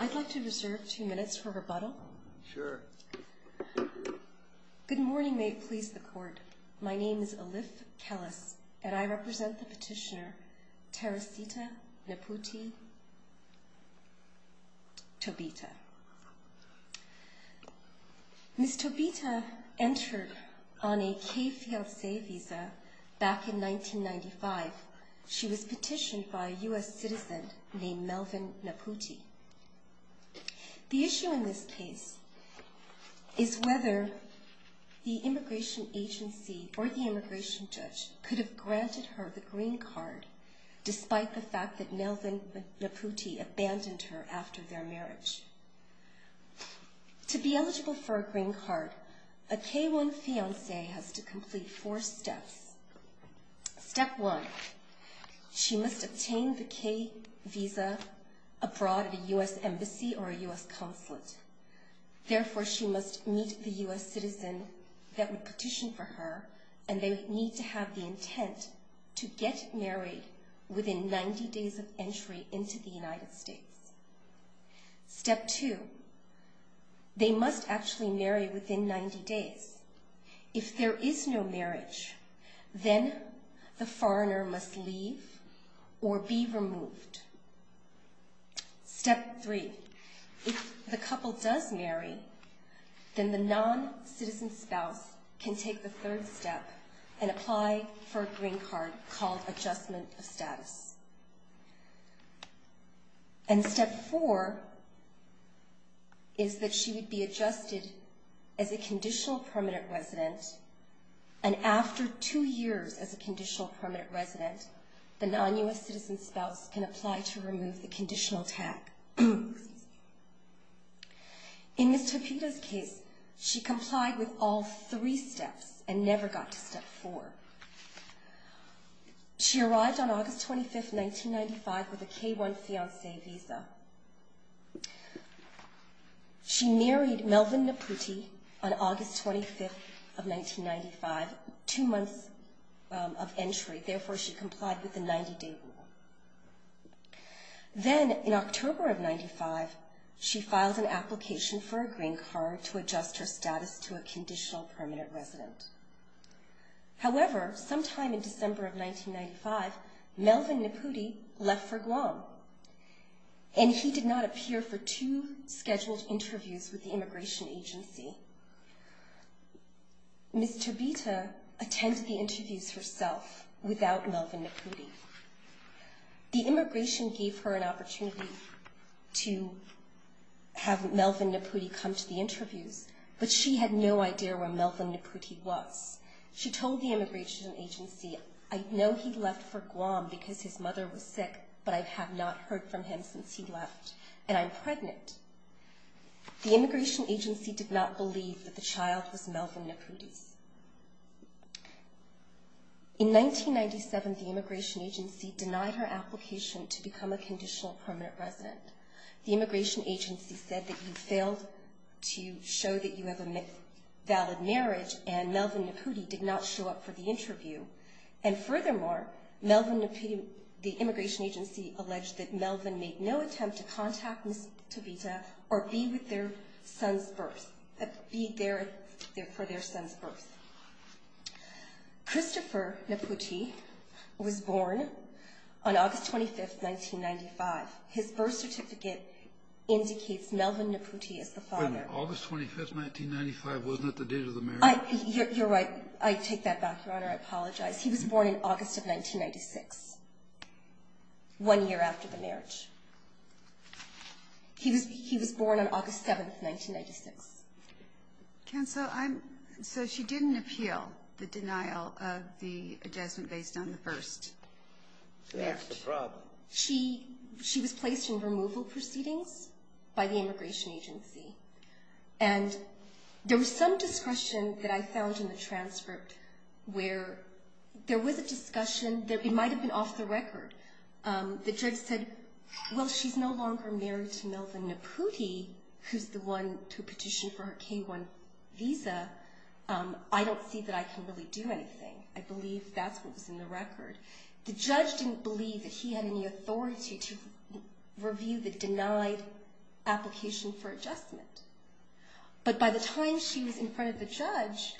I'd like to reserve two minutes for rebuttal. Sure. Thank you. Good morning, may it please the court. My name is Alif Kellis, and I represent the petitioner Teresita Naputi Tobita. Ms. Tobita entered on a KFLSA visa back in 1995. She was petitioned by a U.S. citizen named Melvin Naputi. The issue in this case is whether the immigration agency or the immigration judge could have granted her the green card, despite the fact that Melvin Naputi abandoned her after their marriage. To be eligible for a green card, a K1 fiancé has to complete four steps. Step one, she must obtain the K visa abroad at a U.S. embassy or a U.S. consulate. Therefore, she must meet the U.S. citizen that would petition for her, and they need to have the intent to get married within 90 days of entry into the United States. Step two, they must actually marry within 90 days. If there is no marriage, then the foreigner must leave or be removed. Step three, if the couple does marry, then the non-citizen spouse can take the third step and apply for a green card called adjustment of status. And step four is that she would be adjusted as a conditional permanent resident, and after two years as a conditional permanent resident, the non-U.S. citizen spouse can apply to remove the conditional tag. In Ms. Tapita's case, she complied with all three steps and never got to step four. She arrived on August 25, 1995, with a K1 fiancé visa. She married Melvin Naputi on August 25, 1995, two months of entry. Therefore, she complied with the 90-day rule. Then in October of 95, she filed an application for a green card to adjust her status to a conditional permanent resident. However, sometime in December of 1995, Melvin Naputi left for Guam, and he did not appear for two scheduled interviews with the immigration agency. Ms. Tapita attended the interviews herself without Melvin Naputi. The immigration gave her an opportunity to have Melvin Naputi come to the interviews, but she had no idea where Melvin Naputi was. She told the immigration agency, I know he left for Guam because his mother was sick, but I have not heard from him since he left, and I'm pregnant. The immigration agency did not believe that the child was Melvin Naputi's. In 1997, the immigration agency denied her application to become a conditional permanent resident. The immigration agency said that you failed to show that you have a valid marriage, and Melvin Naputi did not show up for the interview. And furthermore, the immigration agency alleged that Melvin made no attempt to contact Ms. Tapita or be there for their son's birth. Christopher Naputi was born on August 25, 1995. His birth certificate indicates Melvin Naputi as the father. August 25, 1995, wasn't it the date of the marriage? You're right. I take that back, Your Honor. I apologize. He was born in August of 1996, one year after the marriage. He was born on August 7, 1996. Counsel, so she didn't appeal the denial of the adjustment based on the first marriage. That's the problem. She was placed in removal proceedings by the immigration agency, and there was some discussion that I found in the transcript where there was a discussion. It might have been off the record. The judge said, well, she's no longer married to Melvin Naputi, who's the one who petitioned for her K-1 visa. I don't see that I can really do anything. I believe that's what was in the record. The judge didn't believe that he had any authority to review the denied application for adjustment. But by the time she was in front of the judge,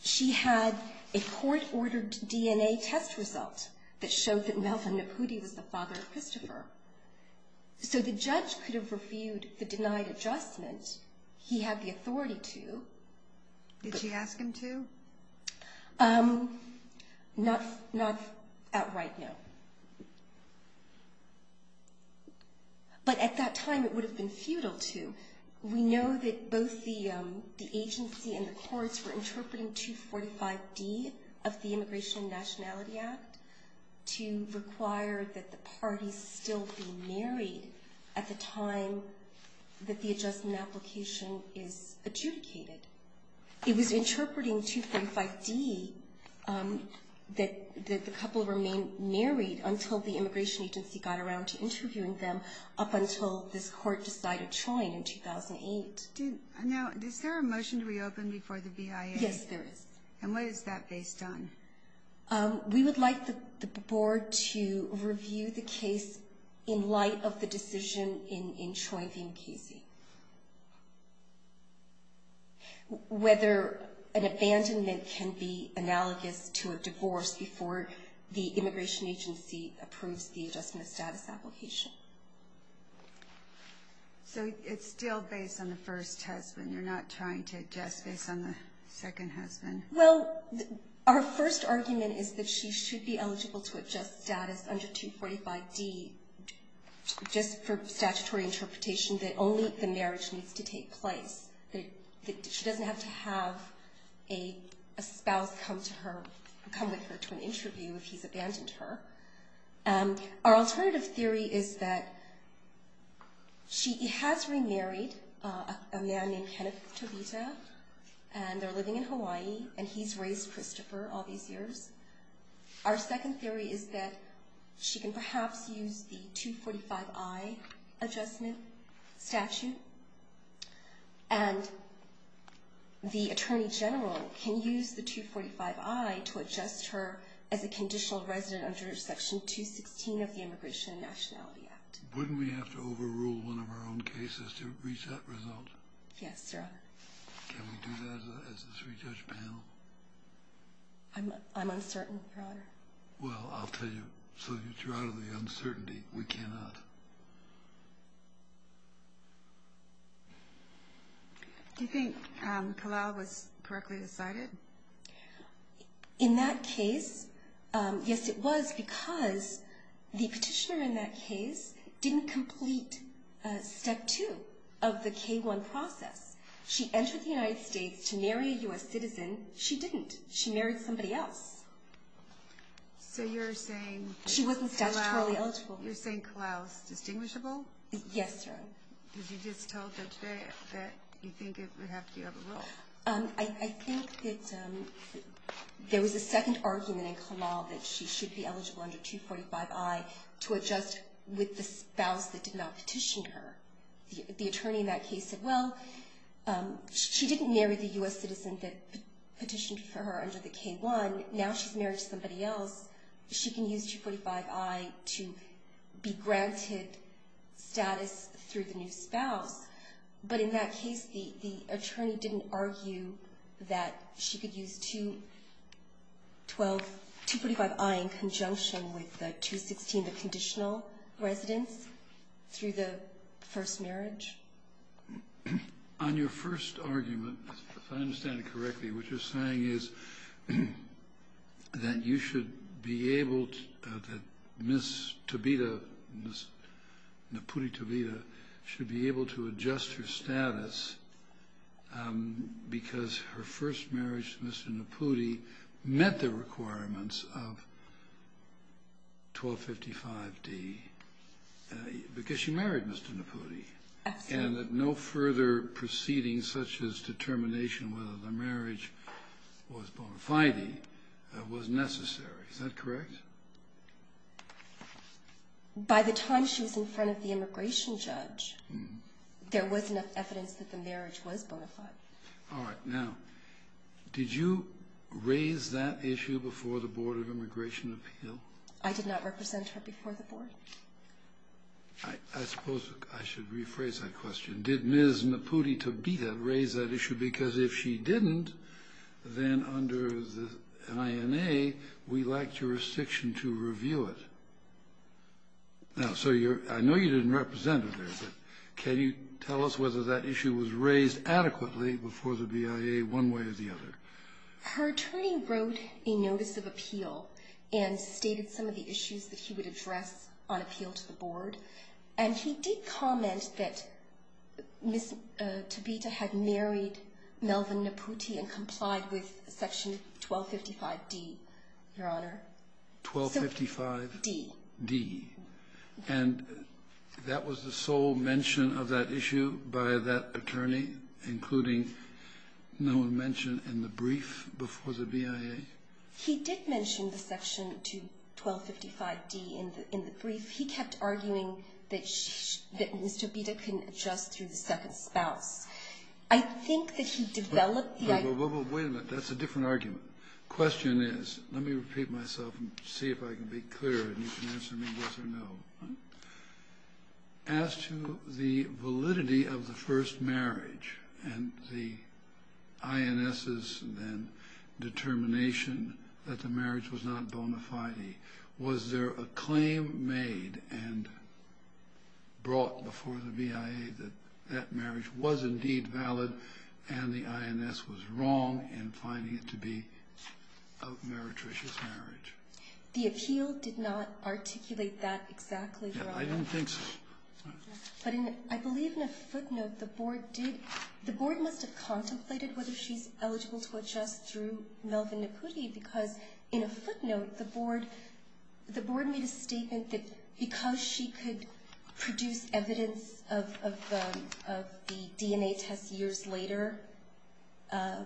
she had a court-ordered DNA test result that showed that Melvin Naputi was the father of Christopher. So the judge could have reviewed the denied adjustment. He had the authority to. Did she ask him to? Not outright, no. But at that time, it would have been futile to. We know that both the agency and the courts were interpreting 245D of the Immigration and Nationality Act to require that the parties still be married at the time that the adjustment application is adjudicated. It was interpreting 245D that the couple remain married until the immigration agency got around to interviewing them up until this court decided CHOIN in 2008. Now, is there a motion to reopen before the BIA? Yes, there is. And what is that based on? We would like the board to review the case in light of the decision in CHOIN v. NKC, whether an abandonment can be analogous to a divorce before the immigration agency approves the adjustment status application. So it's still based on the first husband? You're not trying to adjust based on the second husband? Well, our first argument is that she should be eligible to adjust status under 245D just for statutory interpretation that only the marriage needs to take place. She doesn't have to have a spouse come with her to an interview if he's abandoned her. Our alternative theory is that she has remarried a man named Kenneth Tobita, and they're living in Hawaii, and he's raised Christopher all these years. Our second theory is that she can perhaps use the 245I adjustment statute, and the attorney general can use the 245I to adjust her as a conditional resident under Section 216 of the Immigration and Nationality Act. Wouldn't we have to overrule one of our own cases to reach that result? Yes, Your Honor. Can we do that as a three-judge panel? I'm uncertain, Your Honor. Well, I'll tell you. So you're out of the uncertainty. We cannot. Do you think Kalau was correctly decided? In that case, yes, it was because the petitioner in that case didn't complete Step 2 of the K-1 process. She entered the United States to marry a U.S. citizen. She didn't. She married somebody else. So you're saying Kalau is distinguishable? Yes, Your Honor. Did you just tell them today that you think it would have to be overruled? I think that there was a second argument in Kalau that she should be eligible under 245I to adjust with the spouse that did not petition her. The attorney in that case said, well, she didn't marry the U.S. citizen that petitioned for her under the K-1. Now she's married to somebody else. She can use 245I to be granted status through the new spouse. But in that case, the attorney didn't argue that she could use 245I in conjunction with the 216, the conditional residence, through the first marriage? On your first argument, if I understand it correctly, what you're saying is that you should be able to — that Ms. Tabita, Ms. Napudi Tabita, should be able to adjust her status because her first marriage to Mr. Napudi met the requirements of 1255D because she married Mr. Napudi. Absolutely. And that no further proceeding such as determination whether the marriage was bona fide was necessary. Is that correct? By the time she was in front of the immigration judge, there was enough evidence that the marriage was bona fide. All right. Now, did you raise that issue before the Board of Immigration Appeal? I did not represent her before the Board. I suppose I should rephrase that question. Did Ms. Napudi Tabita raise that issue? Because if she didn't, then under the NIMA, we lack jurisdiction to review it. Now, so I know you didn't represent her there, but can you tell us whether that issue was raised adequately before the BIA one way or the other? Her attorney wrote a notice of appeal and stated some of the issues that he would address on appeal to the Board, and he did comment that Ms. Tabita had married Melvin Napudi and complied with Section 1255D, Your Honor. 1255D. And that was the sole mention of that issue by that attorney, including no mention in the brief before the BIA? He did mention the Section 1255D in the brief. He kept arguing that Ms. Tabita couldn't adjust through the second spouse. I think that he developed the idea. Wait a minute. That's a different argument. The question is, let me repeat myself and see if I can be clearer, and you can answer me yes or no. As to the validity of the first marriage and the INS's then determination that the marriage was not bona fide, was there a claim made and brought before the BIA that that marriage was indeed valid and the INS was wrong in finding it to be a meretricious marriage? The appeal did not articulate that exactly, Your Honor. I didn't think so. But I believe in a footnote the Board must have contemplated whether she's eligible to adjust through Melvin Napudi because in a footnote the Board made a statement that because she could produce evidence of the DNA test years later, that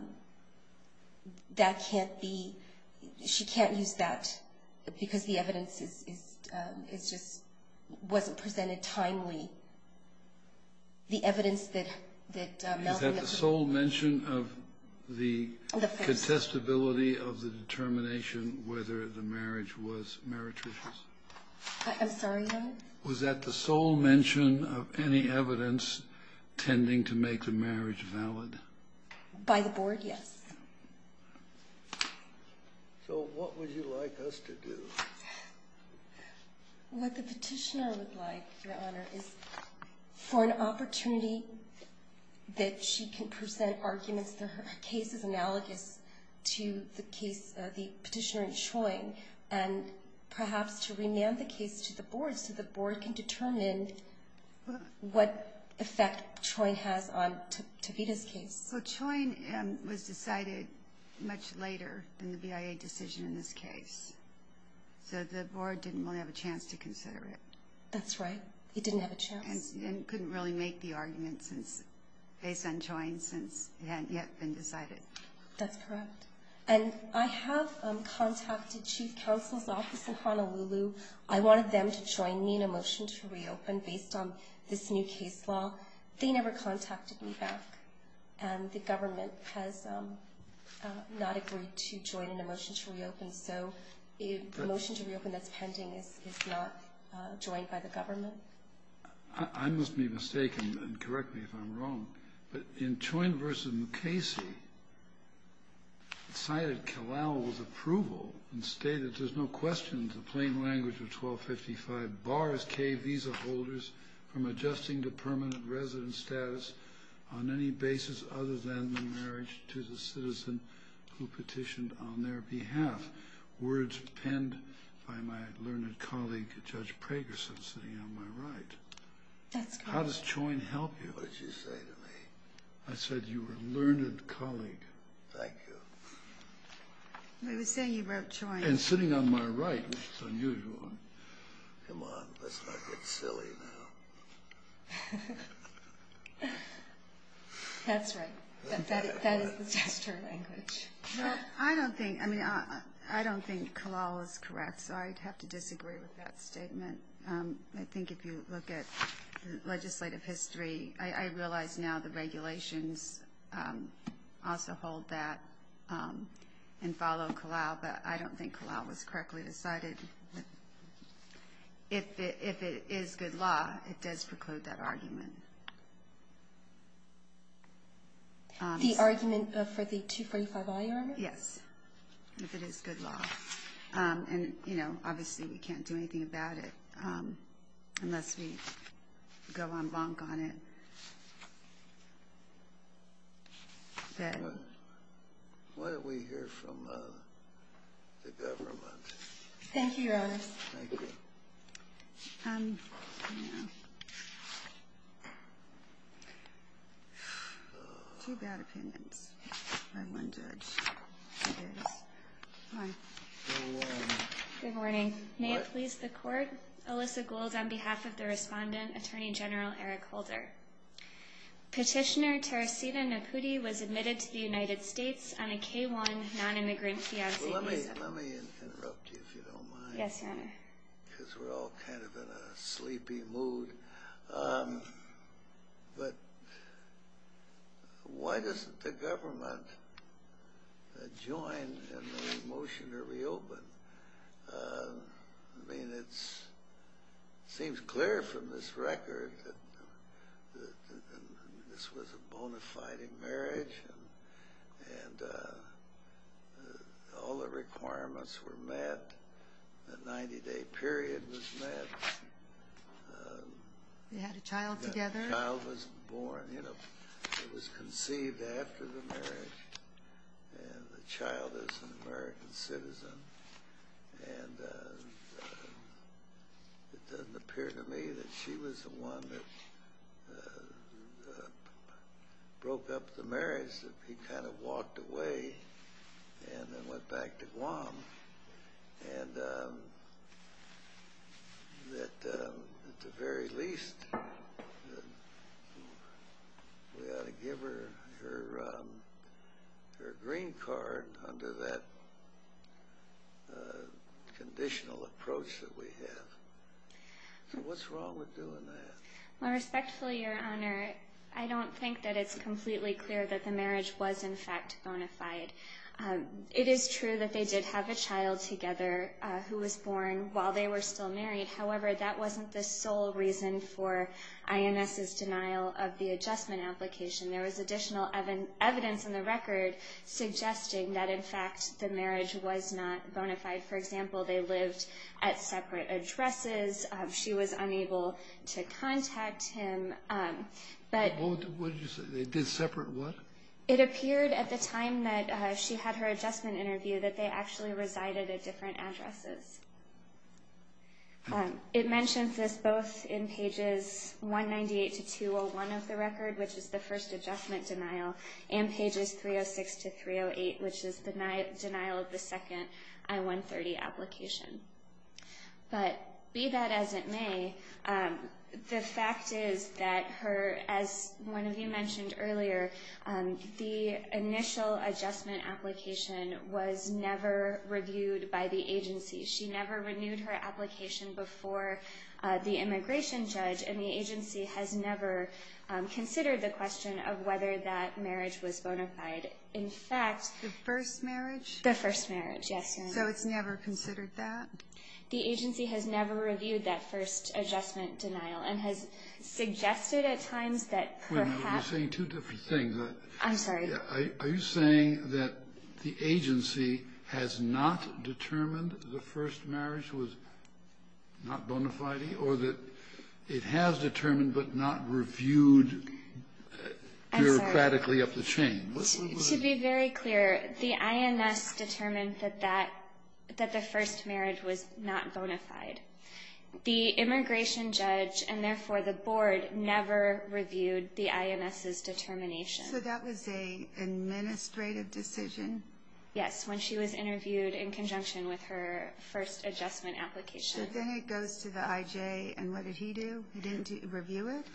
can't be ‑‑ she can't use that because the evidence just wasn't presented timely. The evidence that Melvin ‑‑ Was that the sole mention of the contestability of the determination whether the marriage was meretricious? I'm sorry, Your Honor? Was that the sole mention of any evidence tending to make the marriage valid? By the Board, yes. So what would you like us to do? What the petitioner would like, Your Honor, is for an opportunity that she can present arguments that her case is analogous to the petitioner in Choyne and perhaps to remand the case to the Board so the Board can determine what effect Choyne has on Tavita's case. So Choyne was decided much later than the BIA decision in this case. So the Board didn't really have a chance to consider it. That's right. It didn't have a chance. And couldn't really make the argument based on Choyne since it hadn't yet been decided. That's correct. And I have contacted Chief Counsel's Office in Honolulu. I wanted them to join me in a motion to reopen based on this new case law. They never contacted me back, and the government has not agreed to join in a motion to reopen. So the motion to reopen that's pending is not joined by the government. I must be mistaken, and correct me if I'm wrong, but in Choyne v. Mukasey, it cited Kalau's approval and stated, there's no question in the plain language of 1255, bars K visa holders from adjusting to permanent resident status on any basis other than the marriage to the citizen who petitioned on their behalf. Words penned by my learned colleague, Judge Pragerson, sitting on my right. That's correct. How does Choyne help you? What did you say to me? I said you were a learned colleague. Thank you. We were saying you wrote Choyne. And sitting on my right, which is unusual. Come on, let's not get silly now. That's right. That is the test of language. I don't think Kalau is correct, so I'd have to disagree with that statement. I think if you look at legislative history, I realize now the regulations also hold that and follow Kalau, but I don't think Kalau was correctly decided. If it is good law, it does preclude that argument. The argument for the 245 IR? Yes, if it is good law. And, you know, obviously we can't do anything about it unless we go en banc on it. What did we hear from the government? Thank you, Your Honors. Thank you. Two bad opinions by one judge. Good morning. Good morning. May it please the Court, Alyssa Gould on behalf of the respondent, Attorney General Eric Holder. Petitioner Teresita Napudi was admitted to the United States on a K-1 nonimmigrant fiancé visa. Let me interrupt you, if you don't mind. Yes, Your Honor. Because we're all kind of in a sleepy mood. But why doesn't the government join in the motion to reopen? I mean, it seems clear from this record that this was a bona fide marriage and all the requirements were met. The 90-day period was met. They had a child together. The child was born. It was conceived after the marriage. And the child is an American citizen. And it doesn't appear to me that she was the one that broke up the marriage. He kind of walked away and then went back to Guam. And that, at the very least, we ought to give her her green card under that conditional approach that we have. So what's wrong with doing that? Well, respectfully, Your Honor, I don't think that it's completely clear that the marriage was, in fact, bona fide. It is true that they did have a child together who was born while they were still married. However, that wasn't the sole reason for INS's denial of the adjustment application. There was additional evidence in the record suggesting that, in fact, the marriage was not bona fide. For example, they lived at separate addresses. She was unable to contact him. What did you say? They did separate what? It appeared at the time that she had her adjustment interview that they actually resided at different addresses. It mentions this both in pages 198 to 201 of the record, which is the first adjustment denial, and pages 306 to 308, which is the denial of the second I-130 application. But be that as it may, the fact is that her, as one of you mentioned earlier, the initial adjustment application was never reviewed by the agency. She never renewed her application before the immigration judge, and the agency has never considered the question of whether that marriage was bona fide. In fact, the first marriage? The first marriage, yes. So it's never considered that? The agency has never reviewed that first adjustment denial and has suggested at times that perhaps Wait a minute. You're saying two different things. I'm sorry. Are you saying that the agency has not determined the first marriage was not bona fide, or that it has determined but not reviewed bureaucratically of the change? To be very clear, the INS determined that the first marriage was not bona fide. The immigration judge, and therefore the board, never reviewed the INS's determination. So that was an administrative decision? Yes, when she was interviewed in conjunction with her first adjustment application. So then it goes to the IJ, and what did he do? He didn't review it?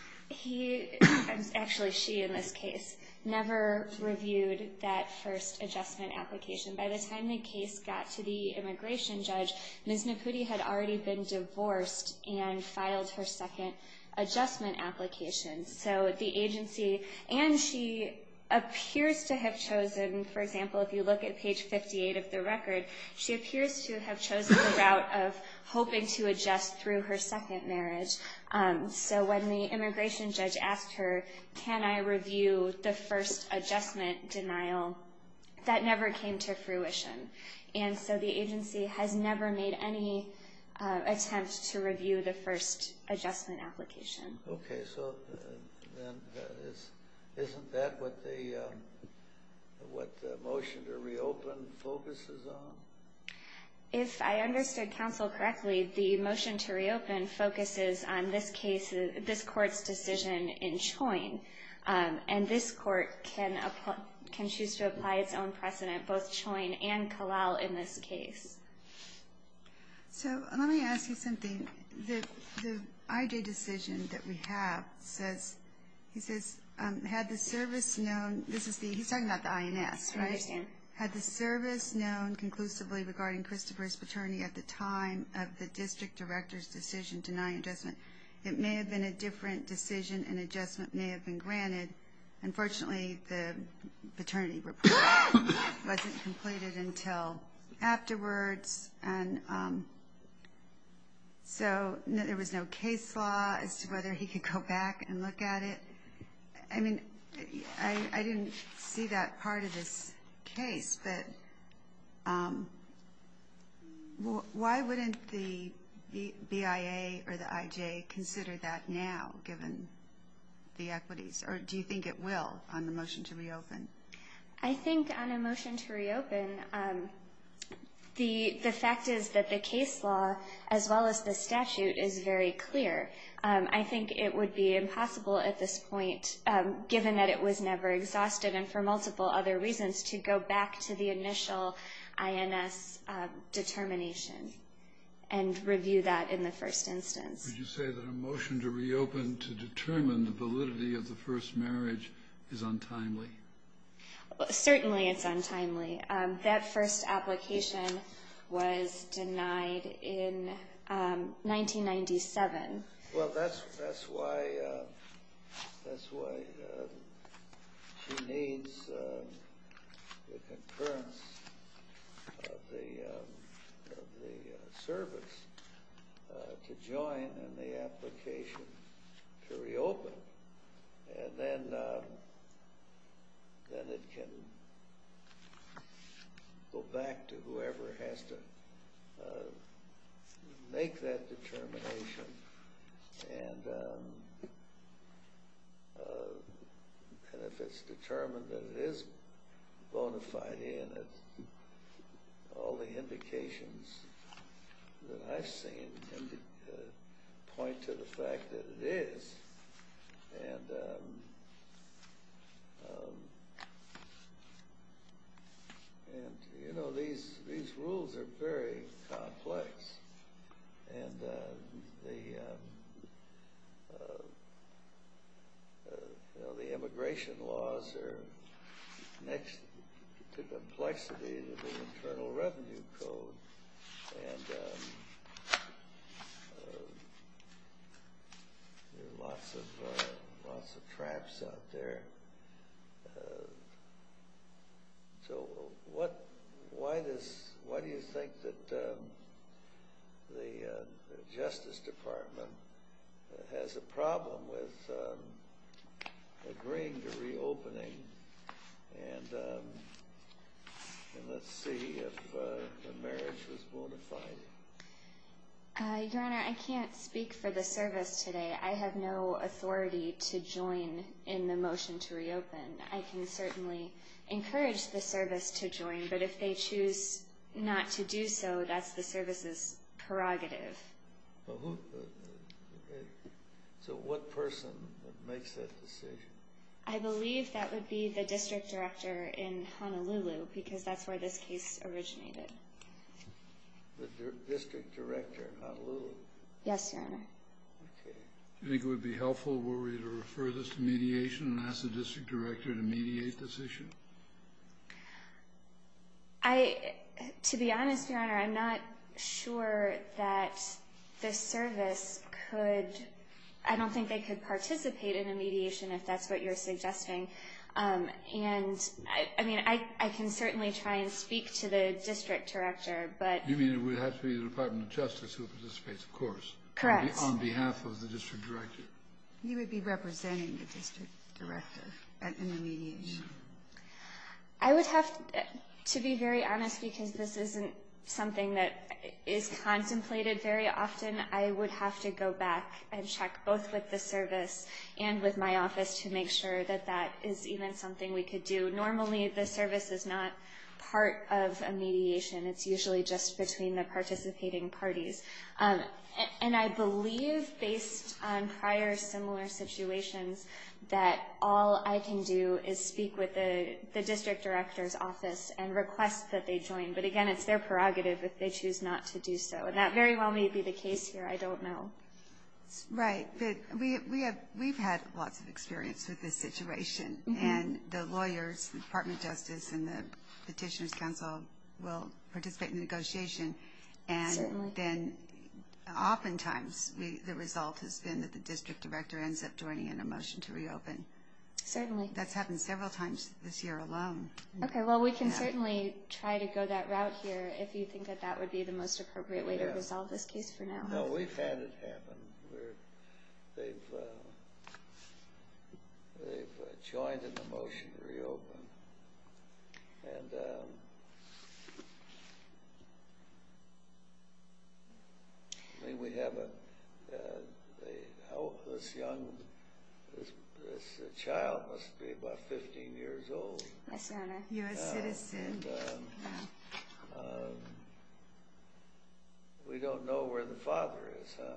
Actually, she, in this case, never reviewed that first adjustment application. By the time the case got to the immigration judge, Ms. Napudi had already been divorced and filed her second adjustment application. So the agency, and she appears to have chosen, for example, if you look at page 58 of the record, she appears to have chosen the route of hoping to adjust through her second marriage. So when the immigration judge asked her, can I review the first adjustment denial, that never came to fruition. And so the agency has never made any attempt to review the first adjustment application. Okay, so then isn't that what the motion to reopen focuses on? If I understood counsel correctly, the motion to reopen focuses on this case, this court's decision in Choyne. And this court can choose to apply its own precedent, both Choyne and Calal in this case. So let me ask you something. The IJ decision that we have says, he says, had the service known, this is the, he's talking about the INS, right? I understand. Had the service known conclusively regarding Christopher's paternity at the time of the district director's decision denying adjustment, it may have been a different decision and adjustment may have been granted. Unfortunately, the paternity report wasn't completed until afterwards. And so there was no case law as to whether he could go back and look at it. I mean, I didn't see that part of this case. But why wouldn't the BIA or the IJ consider that now, given the equities? Or do you think it will on the motion to reopen? I think on a motion to reopen, the fact is that the case law, as well as the statute, is very clear. I think it would be impossible at this point, given that it was never exhausted and for multiple other reasons, to go back to the initial INS determination and review that in the first instance. Would you say that a motion to reopen to determine the validity of the first marriage is untimely? Certainly it's untimely. That first application was denied in 1997. Well, that's why she needs the concurrence of the service to join in the application to reopen. And then it can go back to whoever has to make that determination. And if it's determined that it is bona fide, and all the indications that I've seen point to the fact that it is, and, you know, these rules are very complex. And the immigration laws are next to the complexity of the Internal Revenue Code. And there are lots of traps out there. So why do you think that the Justice Department has a problem with agreeing to reopening? And let's see if the marriage was bona fide. Your Honor, I can't speak for the service today. I have no authority to join in the motion to reopen. I can certainly encourage the service to join, but if they choose not to do so, that's the service's prerogative. So what person makes that decision? I believe that would be the district director in Honolulu, because that's where this case originated. The district director of Honolulu? Yes, Your Honor. Okay. Do you think it would be helpful were we to refer this to mediation and ask the district director to mediate this issue? To be honest, Your Honor, I'm not sure that the service could... I don't think they could participate in a mediation if that's what you're suggesting. And, I mean, I can certainly try and speak to the district director, but... You mean it would have to be the Department of Justice who participates, of course. Correct. On behalf of the district director. You would be representing the district director in the mediation. I would have to be very honest, because this isn't something that is contemplated very often. I would have to go back and check both with the service and with my office to make sure that that is even something we could do. Normally, the service is not part of a mediation. It's usually just between the participating parties. And I believe, based on prior similar situations, that all I can do is speak with the district director's office and request that they join. But, again, it's their prerogative if they choose not to do so. And that very well may be the case here. I don't know. Right. But we've had lots of experience with this situation. And the lawyers, the Department of Justice, and the Petitioner's Council will participate in the negotiation. Certainly. Then, oftentimes, the result has been that the district director ends up joining in a motion to reopen. Certainly. That's happened several times this year alone. Okay. Well, we can certainly try to go that route here if you think that that would be the most appropriate way to resolve this case for now. No, we've had it happen. They've joined in the motion to reopen. And, I mean, we have this young, this child must be about 15 years old. Yes, Your Honor. A U.S. citizen. And we don't know where the father is, huh?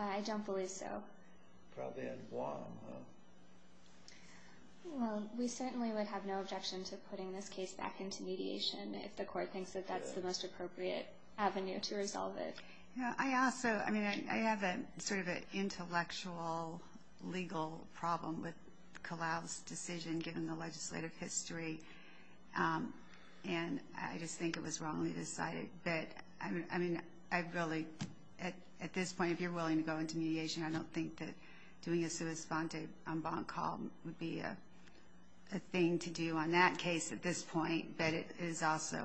I don't believe so. Probably in Guam, huh? Well, we certainly would have no objection to putting this case back into mediation if the court thinks that that's the most appropriate avenue to resolve it. Yeah. I also, I mean, I have sort of an intellectual legal problem with Kalau's decision given the legislative history. And I just think it was wrongly decided. But, I mean, I really, at this point, if you're willing to go into mediation, I don't think that doing a sua svante on Bonk Hall would be a thing to do on that case at this point. But it is also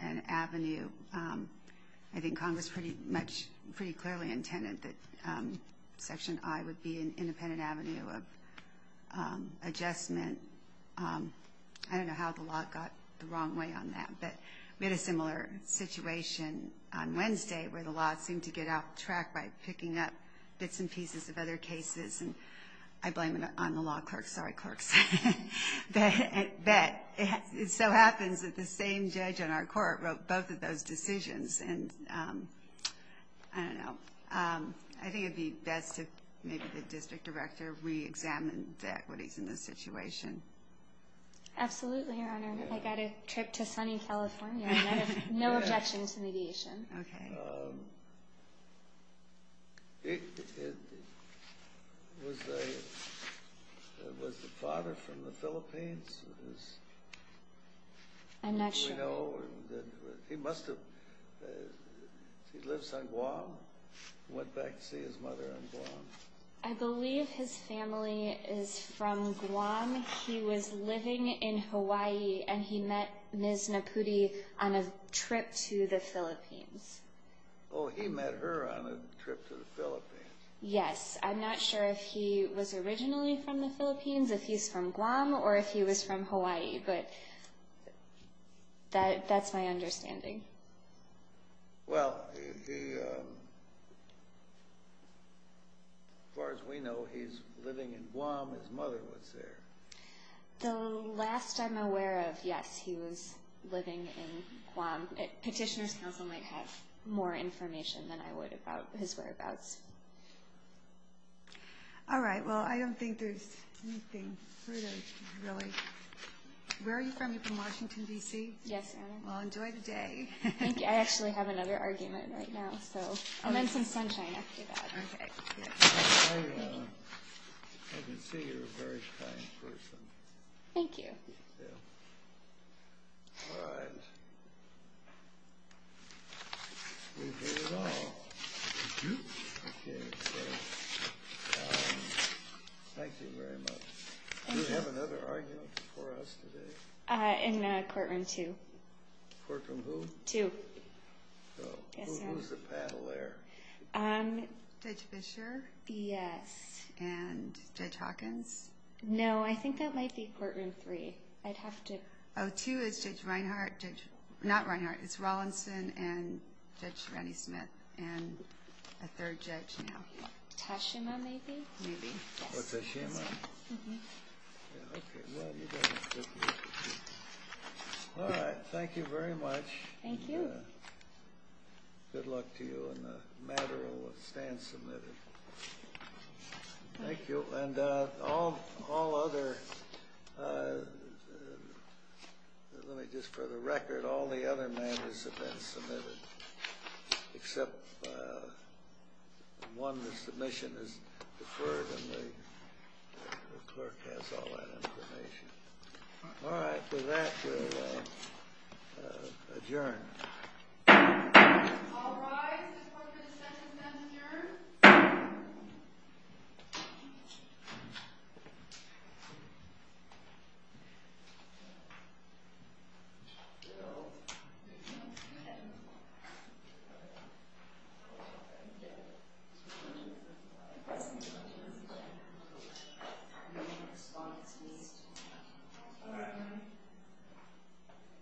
an avenue. I think Congress pretty clearly intended that Section I would be an independent avenue of adjustment. I don't know how the law got the wrong way on that. But we had a similar situation on Wednesday where the law seemed to get out of track by picking up bits and pieces of other cases. And I blame it on the law clerks. Sorry, clerks. But it so happens that the same judge on our court wrote both of those decisions. And I don't know. I think it would be best if maybe the district director reexamined what is in the situation. Absolutely, Your Honor. I got a trip to sunny California. No objections to mediation. Okay. Was the father from the Philippines? I'm not sure. Do we know? He must have. He lives on Guam? Went back to see his mother on Guam? I believe his family is from Guam. He was living in Hawaii, and he met Ms. Napudi on a trip to the Philippines. Oh, he met her on a trip to the Philippines. Yes. I'm not sure if he was originally from the Philippines, if he's from Guam, or if he was from Hawaii. But that's my understanding. Well, as far as we know, he's living in Guam. His mother was there. The last I'm aware of, yes, he was living in Guam. Petitioner's counsel might have more information than I would about his whereabouts. All right. Well, I don't think there's anything further, really. Where are you from? You're from Washington, D.C.? Yes, Your Honor. Well, enjoy the day. Thank you. I actually have another argument right now, and then some sunshine after that. Okay. Thank you. I can see you're a very kind person. Thank you. Yeah. All right. We've heard it all. Thank you very much. Do you have another argument before us today? In Courtroom 2. Courtroom who? 2. Who's the paddler? Judge Fischer? Yes. And Judge Hawkins? No, I think that might be Courtroom 3. I'd have to... Oh, 2 is Judge Reinhardt. Not Reinhardt. It's Rawlinson and Judge Rennie-Smith, and a third judge now. Tashima, maybe? Maybe. Yes. Oh, Tashima. Thank you. All right. Thank you very much. Thank you. Good luck to you on the matter that stands submitted. Thank you. And all other... Let me just... For the record, all the other matters have been submitted, except one, the submission is deferred, and the clerk has all that information. All right. With that, we'll adjourn. All rise. This court is adjourned.